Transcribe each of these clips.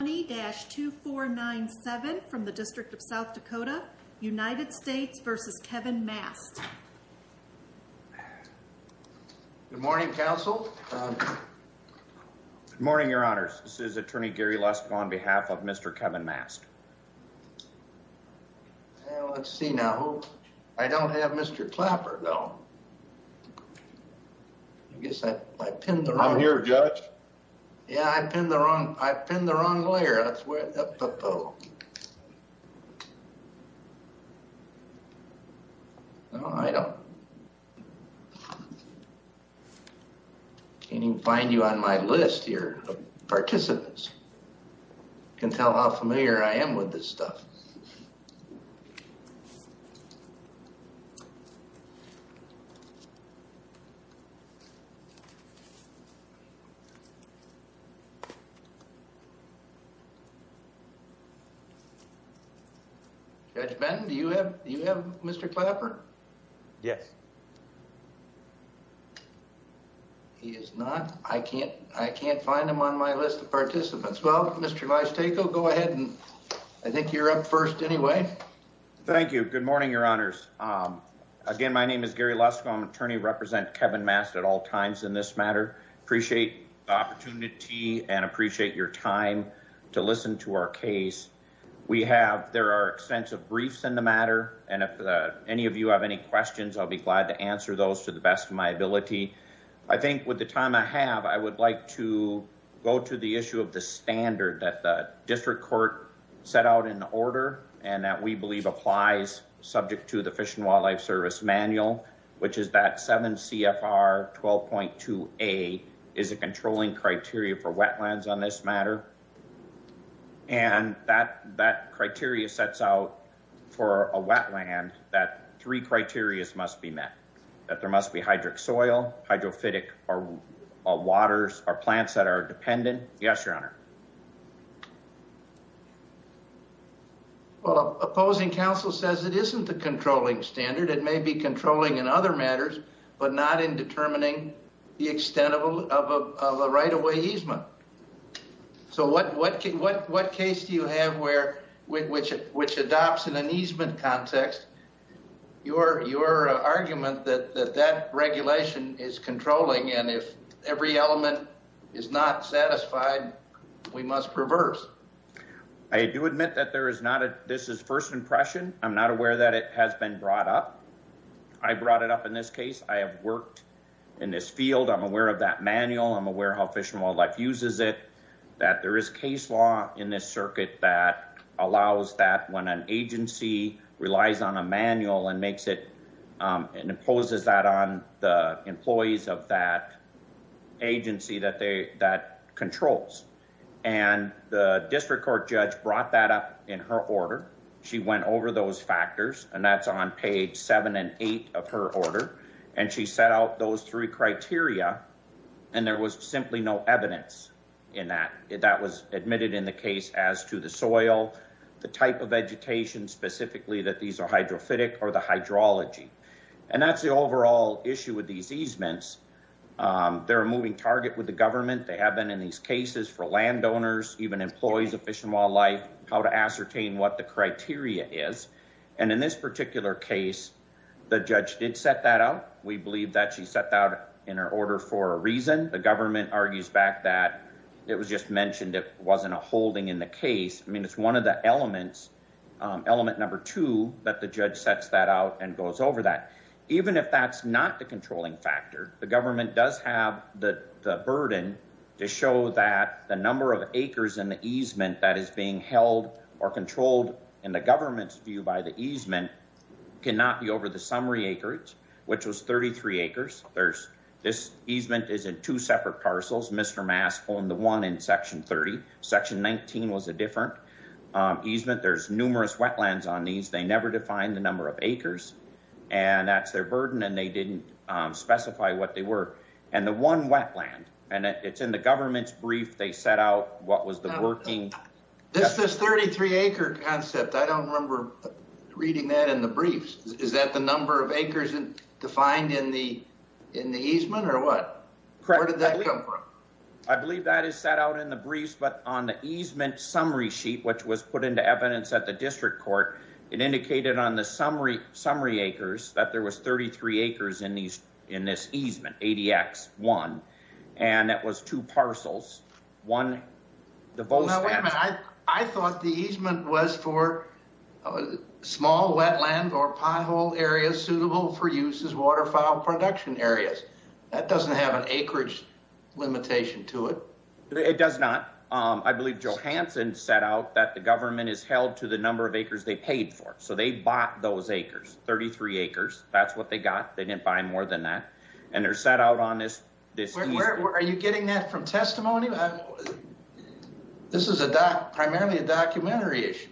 2497 from the District of South Dakota, United States v. Kevin Mast. Good morning, Counsel. Good morning, Your Honors. This is Attorney Gary Lusk on behalf of Mr. Kevin Mast. Well, let's see now. I don't have Mr. Clapper, though. I guess I pinned the wrong... I'm here, Judge. Yeah, I pinned the wrong layer. That's where... No, I don't... I can't even find you on my list here of participants. You can tell how familiar I am with this stuff. Judge Benton, do you have Mr. Clapper? Yes. He is not... I can't find him on my list of participants. Well, Mr. Lystaco, go ahead. I think you're up first anyway. Thank you. Good morning, Your Honors. Again, my name is Gary Lusk. I'm an attorney representing Kevin Mast at all times in this matter. Appreciate the opportunity and appreciate your time to listen to our case. We have... There are extensive briefs in the matter. And if any of you have any questions, I'll be glad to answer those to the best of my ability. I think with the time I have, I would like to go to the issue of the standard that the District Court set out in the order. And that we believe applies subject to the Fish and Wildlife Service manual, which is that 7 CFR 12.2A is a controlling criteria for wetlands on this matter. And that criteria sets out for a wetland that three criterias must be met. That there must be hydric soil, hydrophytic waters or plants that are dependent. Yes, Your Honor. Well, opposing counsel says it isn't the controlling standard. It may be controlling in other matters, but not in determining the extent of a right-of-way easement. So what case do you have which adopts an easement context? Your argument that that regulation is controlling and if every element is not satisfied, we must reverse. I do admit that this is first impression. I'm not aware that it has been brought up. I brought it up in this case. I have worked in this field. I'm aware of that manual. I'm aware how Fish and Wildlife uses it. That there is case law in this circuit that allows that when an agency relies on a manual and makes it and imposes that on the employees of that agency that controls. And the district court judge brought that up in her order. She went over those factors and that's on page seven and eight of her order. And she set out those three criteria and there was simply no evidence in that. That was admitted in the case as to the soil, the type of vegetation specifically that these are hydrophytic or the hydrology. And that's the overall issue with these easements. They're a moving target with the government. They have been in these cases for landowners, even employees of Fish and Wildlife, how to ascertain what the criteria is. And in this particular case, the judge did set that out. We believe that she set that out in her order for a reason. The government argues back that it was just mentioned it wasn't a holding in the case. I mean, it's one of the elements, element number two, that the judge sets that out and goes over that. Even if that's not the controlling factor, the government does have the burden to show that the number of acres in the easement that is being held or controlled in the government's view by the easement cannot be over the summary acreage, which was 33 acres. This easement is in two separate parcels. Mr. Maskell and the one in section 30. Section 19 was a different easement. There's numerous wetlands on these. They never defined the number of acres. And that's their burden. And they didn't specify what they were. And the one wetland and it's in the government's brief. They set out what was the working. This is 33 acre concept. I don't remember reading that in the briefs. Is that the number of acres and defined in the in the easement or what? Where did that come from? I believe that is set out in the briefs. But on the easement summary sheet, which was put into evidence at the district court. It indicated on the summary summary acres that there was 33 acres in these in this easement 80 X one. And that was two parcels. One. I thought the easement was for small wetland or piehole areas suitable for use as waterfowl production areas. That doesn't have an acreage limitation to it. It does not. I believe Joe Hanson set out that the government is held to the number of acres they paid for. So they bought those acres, 33 acres. That's what they got. They didn't buy more than that. And they're set out on this. Are you getting that from testimony? This is a doc. Primarily a documentary issue.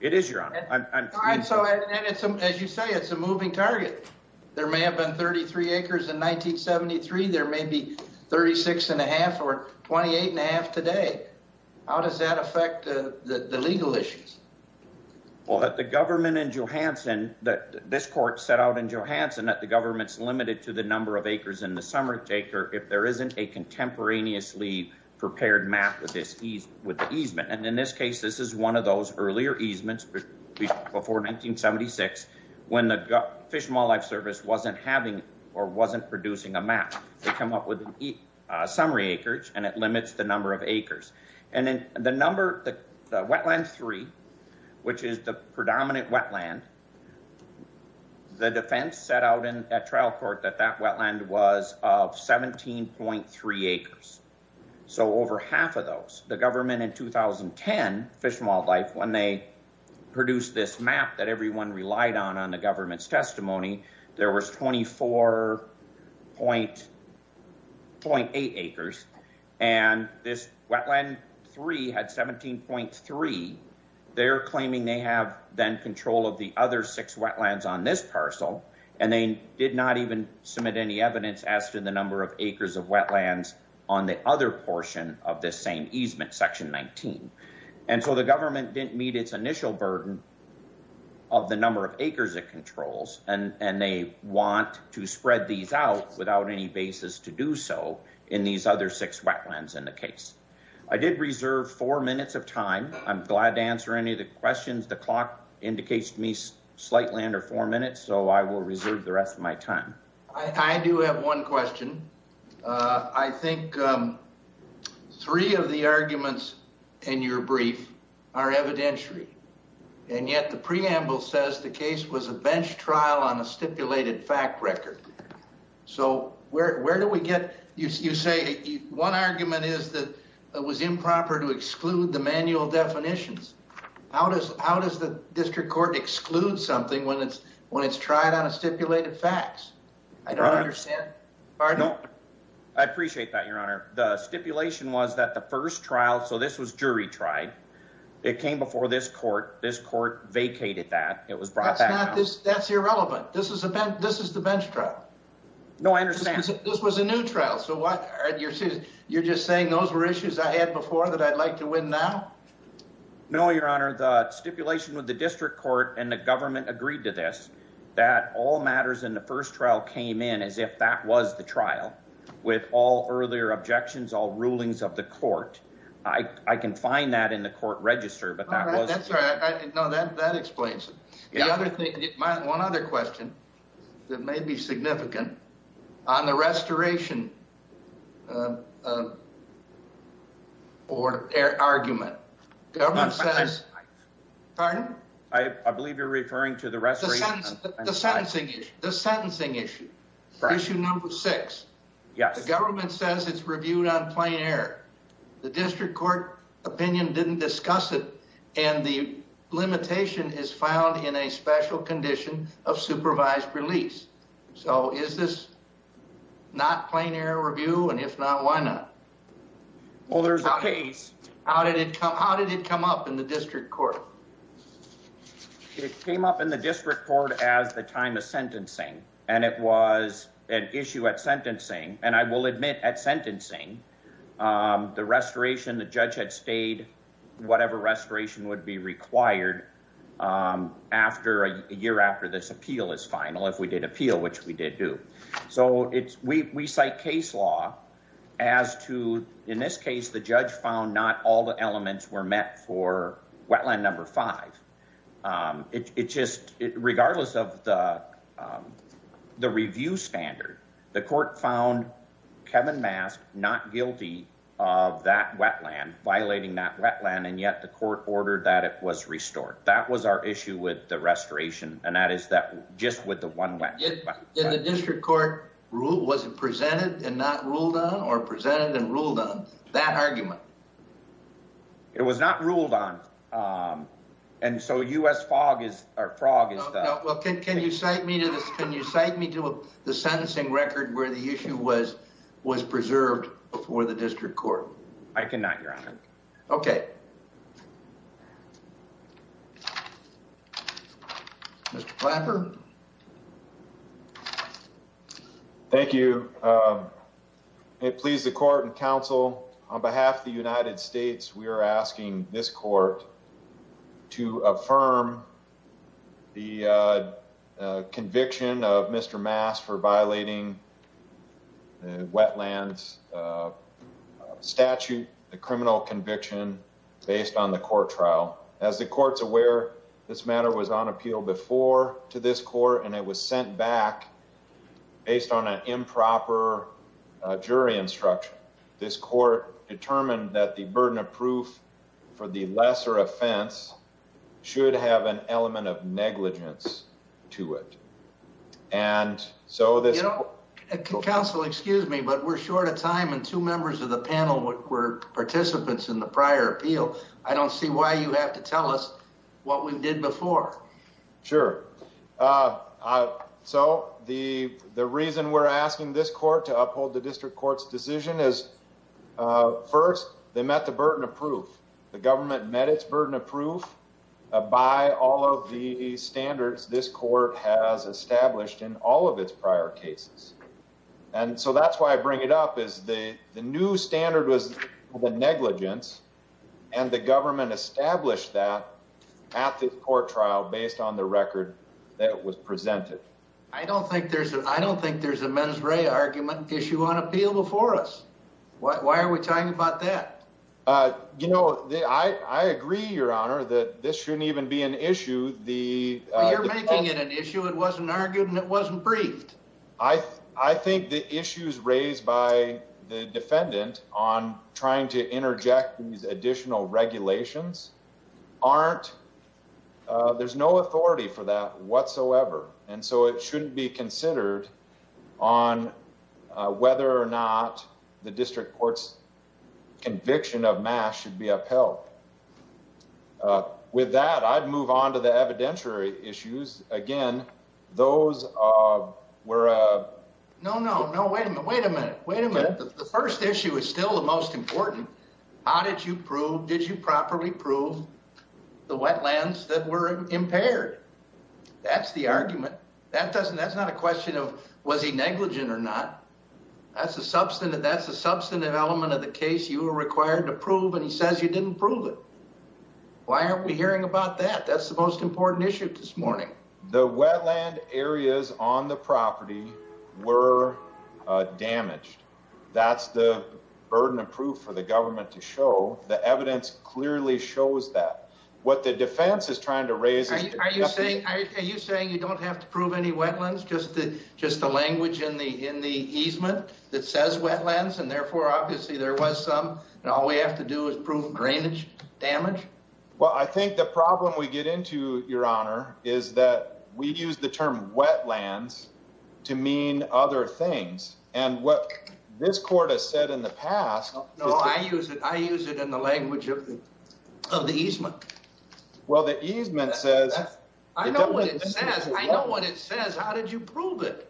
It is your honor. So as you say, it's a moving target. There may have been 33 acres in 1973. There may be 36 and a half or 28 and a half today. How does that affect the legal issues? Well, the government in Johansson that this court set out in Johansson that the government's limited to the number of acres in the summary acre. If there isn't a contemporaneously prepared map of this ease with the easement. And in this case, this is one of those earlier easements before 1976. When the Fish and Wildlife Service wasn't having or wasn't producing a map. They come up with a summary acreage and it limits the number of acres. And then the number, the wetland three, which is the predominant wetland. The defense set out in that trial court that that wetland was of 17.3 acres. So over half of those. The government in 2010 Fish and Wildlife, when they produced this map that everyone relied on on the government's testimony. There was 24.8 acres. And this wetland three had 17.3. They're claiming they have then control of the other six wetlands on this parcel. And they did not even submit any evidence as to the number of acres of wetlands on the other portion of this same easement section 19. And so the government didn't meet its initial burden. Of the number of acres it controls, and they want to spread these out without any basis to do so in these other six wetlands in the case. I did reserve four minutes of time. I'm glad to answer any of the questions. The clock indicates to me slight land or four minutes, so I will reserve the rest of my time. I do have one question. I think three of the arguments in your brief are evidentiary. And yet the preamble says the case was a bench trial on a stipulated fact record. So where do we get, you say one argument is that it was improper to exclude the manual definitions. How does the district court exclude something when it's tried on a stipulated facts? I don't understand. I appreciate that, your honor. The stipulation was that the first trial, so this was jury tried. It came before this court. This court vacated that. It was brought back. That's irrelevant. This is the bench trial. No, I understand. This was a new trial. You're just saying those were issues I had before that I'd like to win now? No, your honor. The stipulation with the district court and the government agreed to this. That all matters in the first trial came in as if that was the trial. With all earlier objections, all rulings of the court. I can find that in the court register. No, that explains it. One other question that may be significant. On the restoration argument. Pardon? I believe you're referring to the restoration argument. The sentencing issue. Issue number six. The government says it's reviewed on plain error. The district court opinion didn't discuss it. And the limitation is found in a special condition of supervised release. So is this not plain error review? And if not, why not? Well, there's a case. How did it come? How did it come up in the district court? It came up in the district court as the time of sentencing. And it was an issue at sentencing. And I will admit at sentencing, the restoration, the judge had stayed. Whatever restoration would be required after a year after this appeal is final. If we did appeal, which we did do. So we cite case law as to, in this case, the judge found not all the elements were met for wetland number five. It's just regardless of the review standard, the court found Kevin Mask not guilty of that wetland, violating that wetland. And yet the court ordered that it was restored. That was our issue with the restoration. And that is that just with the one wetland. In the district court, was it presented and not ruled on? Or presented and ruled on? That argument. It was not ruled on. And so U.S. frog is the... Well, can you cite me to the sentencing record where the issue was preserved before the district court? I cannot, Your Honor. Okay. Okay. Mr. Planker. Thank you. It pleased the court and counsel. On behalf of the United States, we are asking this court to affirm the conviction of Mr. Mask for violating wetlands statute, violating the criminal conviction based on the court trial. As the court's aware, this matter was on appeal before to this court, and it was sent back based on an improper jury instruction. This court determined that the burden of proof for the lesser offense should have an element of negligence to it. And so this... Well, excuse me, but we're short of time, and two members of the panel were participants in the prior appeal. I don't see why you have to tell us what we did before. Sure. So the reason we're asking this court to uphold the district court's decision is, first, they met the burden of proof. The government met its burden of proof by all of the standards this court has established in all of its prior cases. And so that's why I bring it up, is the new standard was negligence, and the government established that at the court trial based on the record that was presented. I don't think there's a mens re argument issue on appeal before us. Why are we talking about that? You know, I agree, Your Honor, that this shouldn't even be an issue. You're making it an issue. It wasn't argued, and it wasn't briefed. I think the issues raised by the defendant on trying to interject these additional regulations aren't... There's no authority for that whatsoever, and so it shouldn't be considered on whether or not the district court's conviction of mass should be upheld. With that, I'd move on to the evidentiary issues. Again, those were... No, no, no. Wait a minute. Wait a minute. The first issue is still the most important. How did you prove, did you properly prove the wetlands that were impaired? That's the argument. That's not a question of was he negligent or not. That's a substantive element of the case you were required to prove, and he says you didn't prove it. Why aren't we hearing about that? That's the most important issue this morning. The wetland areas on the property were damaged. That's the burden of proof for the government to show. The evidence clearly shows that. What the defense is trying to raise is... Are you saying you don't have to prove any wetlands, just the language in the easement that says wetlands, and therefore obviously there was some, and all we have to do is prove drainage damage? Well, I think the problem we get into, Your Honor, is that we use the term wetlands to mean other things, and what this court has said in the past... No, I use it in the language of the easement. Well, the easement says... I know what it says. I know what it says. How did you prove it?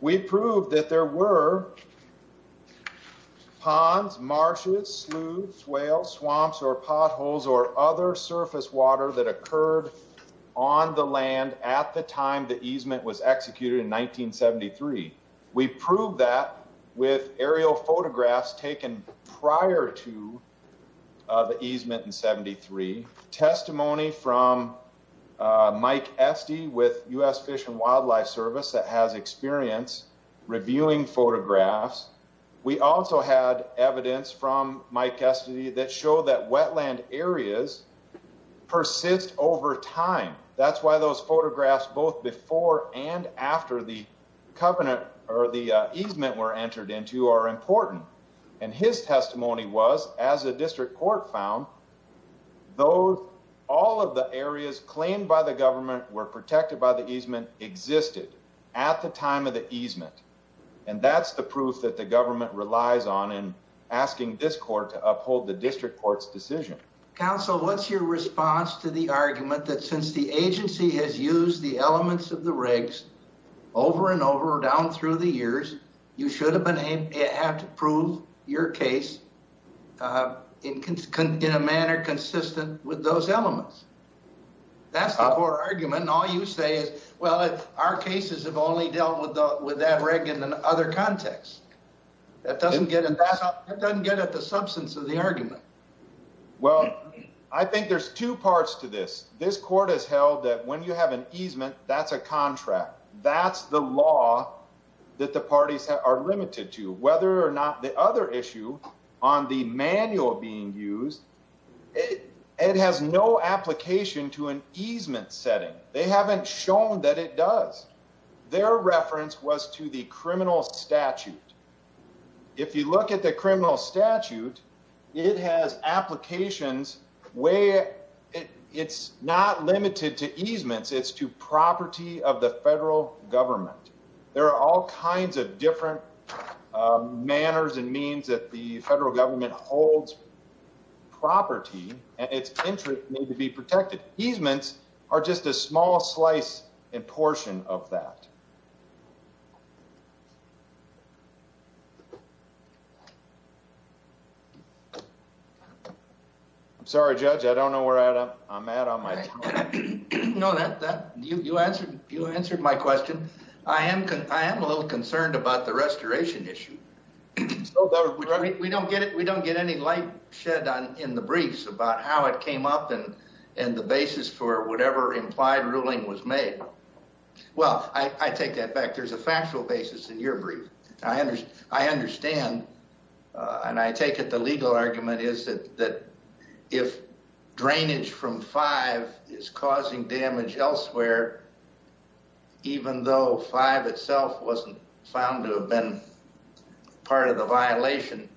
We proved that there were ponds, marshes, sloughs, swales, swamps, or potholes, or other surface water that occurred on the land at the time the easement was executed in 1973. We proved that with aerial photographs taken prior to the easement in 1973. Testimony from Mike Esty with U.S. Fish and Wildlife Service that has experience reviewing photographs. We also had evidence from Mike Esty that showed that wetland areas persist over time. That's why those photographs both before and after the easement were entered into are important. And his testimony was, as the district court found, all of the areas claimed by the government were protected by the easement existed at the time of the easement. And that's the proof that the government relies on in asking this court to uphold the district court's decision. Counsel, what's your response to the argument that since the agency has used the elements of the rigs over and over down through the years, you should have to prove your case in a manner consistent with those elements? That's the core argument, and all you say is, well, our cases have only dealt with that rig in another context. That doesn't get at the substance of the argument. Well, I think there's two parts to this. This court has held that when you have an easement, that's a contract. That's the law that the parties are limited to. Whether or not the other issue on the manual being used, it has no application to an easement setting. They haven't shown that it does. Their reference was to the criminal statute. If you look at the criminal statute, it has applications where it's not limited to easements. It's to property of the federal government. There are all kinds of different manners and means that the federal government holds property, and its interest may be protected. Easements are just a small slice and portion of that. I'm sorry, Judge, I don't know where I'm at on my time. No, you answered my question. I am a little concerned about the restoration issue. We don't get any light shed in the briefs about how it came up and the basis for whatever implied ruling was made. Well, I take that back. There's a factual basis in your brief. I understand, and I take it the legal argument is that if drainage from 5 is causing damage elsewhere, even though 5 itself wasn't found to have been part of the violation,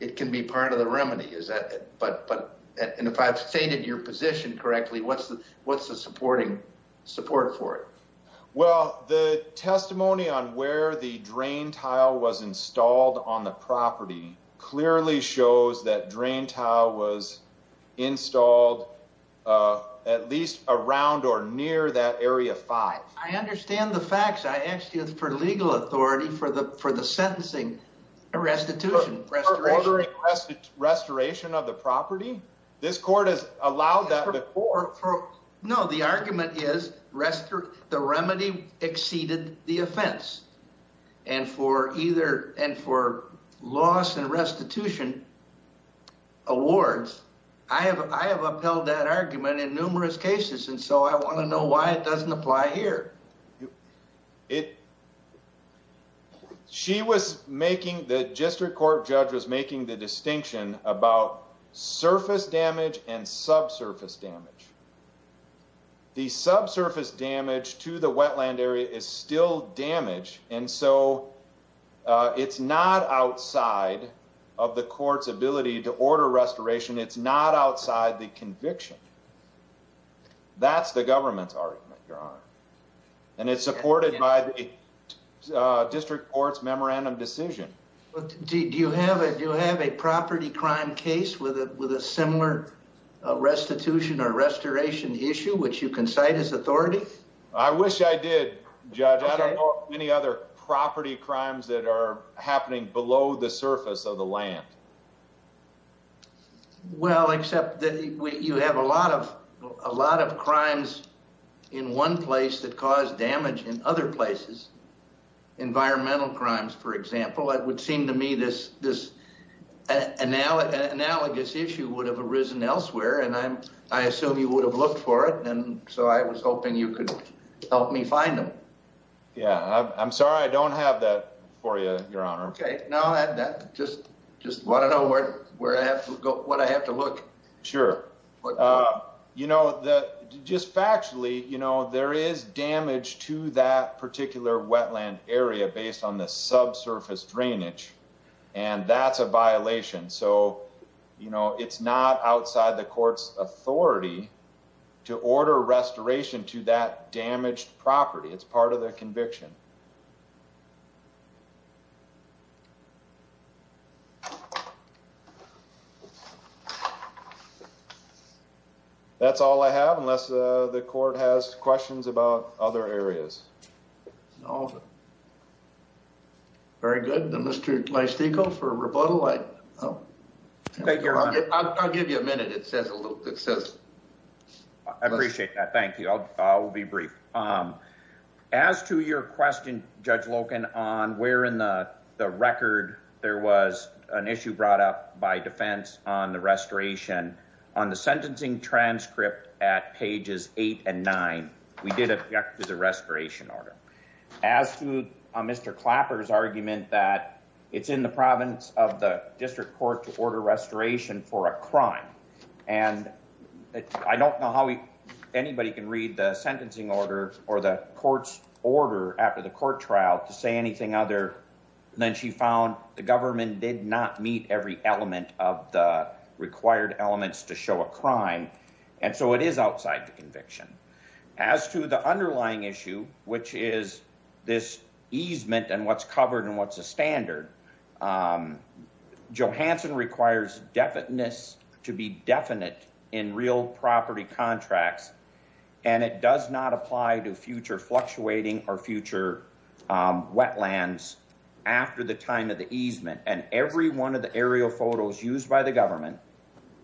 it can be part of the remedy. If I've stated your position correctly, what's the supporting support for it? Well, the testimony on where the drain tile was installed on the property clearly shows that drain tile was installed at least around or near that area 5. I understand the facts. I asked you for legal authority for the sentencing. Restitution. Restoration. Restoration of the property? This court has allowed that before. No, the argument is the remedy exceeded the offense. And for loss and restitution awards, I have upheld that argument in numerous cases, and so I want to know why it doesn't apply here. The district court judge was making the distinction about surface damage and subsurface damage. The subsurface damage to the wetland area is still damage, and so it's not outside of the court's ability to order restoration. It's not outside the conviction. That's the government's argument, Your Honor. And it's supported by the district court's memorandum decision. Do you have a property crime case with a similar restitution or restoration issue, which you can cite as authority? I wish I did, Judge. I don't know of any other property crimes that are happening below the surface of the land. Well, except that you have a lot of crimes in one place that cause damage in other places. Environmental crimes, for example. It would seem to me this analogous issue would have arisen elsewhere, and I assume you would have looked for it, and so I was hoping you could help me find them. Yeah, I'm sorry. I don't have that for you, Your Honor. Okay. Now, I just want to know what I have to look. Sure. You know, just factually, there is damage to that particular wetland area based on the subsurface drainage, and that's a violation. So, you know, it's not outside the court's authority to order restoration to that damaged property. It's part of the conviction. That's all I have, unless the court has questions about other areas. No. Very good. Mr. Mystico, for rebuttal. Thank you, Your Honor. I'll give you a minute. It says... I appreciate that. Thank you. I'll be brief. As to your question, Judge Loken, on where in the record there was an issue brought up by defense on the restoration, on the sentencing transcript at pages 8 and 9, we did object to the restoration order. As to Mr. Clapper's argument that it's in the province of the district court to order restoration for a crime, and I don't know how anybody can read the sentencing order or the court's order after the court trial to say anything other than she found the government did not meet every element of the required elements to show a crime, and so it is outside the conviction. As to the underlying issue, which is this easement and what's covered and what's a standard, Johansson requires definiteness to be definite in real property contracts, and it does not apply to future fluctuating or future wetlands after the time of the easement. And every one of the aerial photos used by the government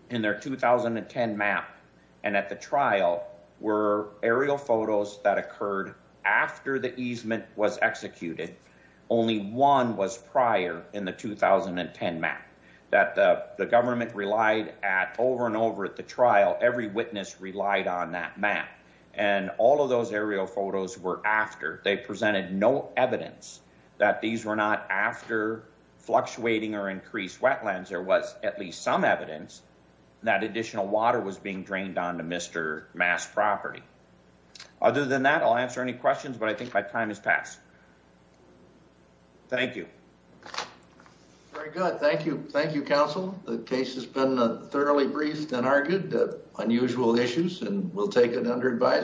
in their 2010 map and at the trial were aerial photos that occurred after the easement was executed. Only one was prior in the 2010 map that the government relied at over and over at the trial. Every witness relied on that map, and all of those aerial photos were after. They presented no evidence that these were not after fluctuating or increased wetlands. There was at least some evidence that additional water was being drained onto Mr. Mass' property. Other than that, I'll answer any questions, but I think my time has passed. Thank you. Very good. Thank you. Thank you, counsel. The case has been thoroughly briefed and argued. Unusual issues, and we'll take it under advisory.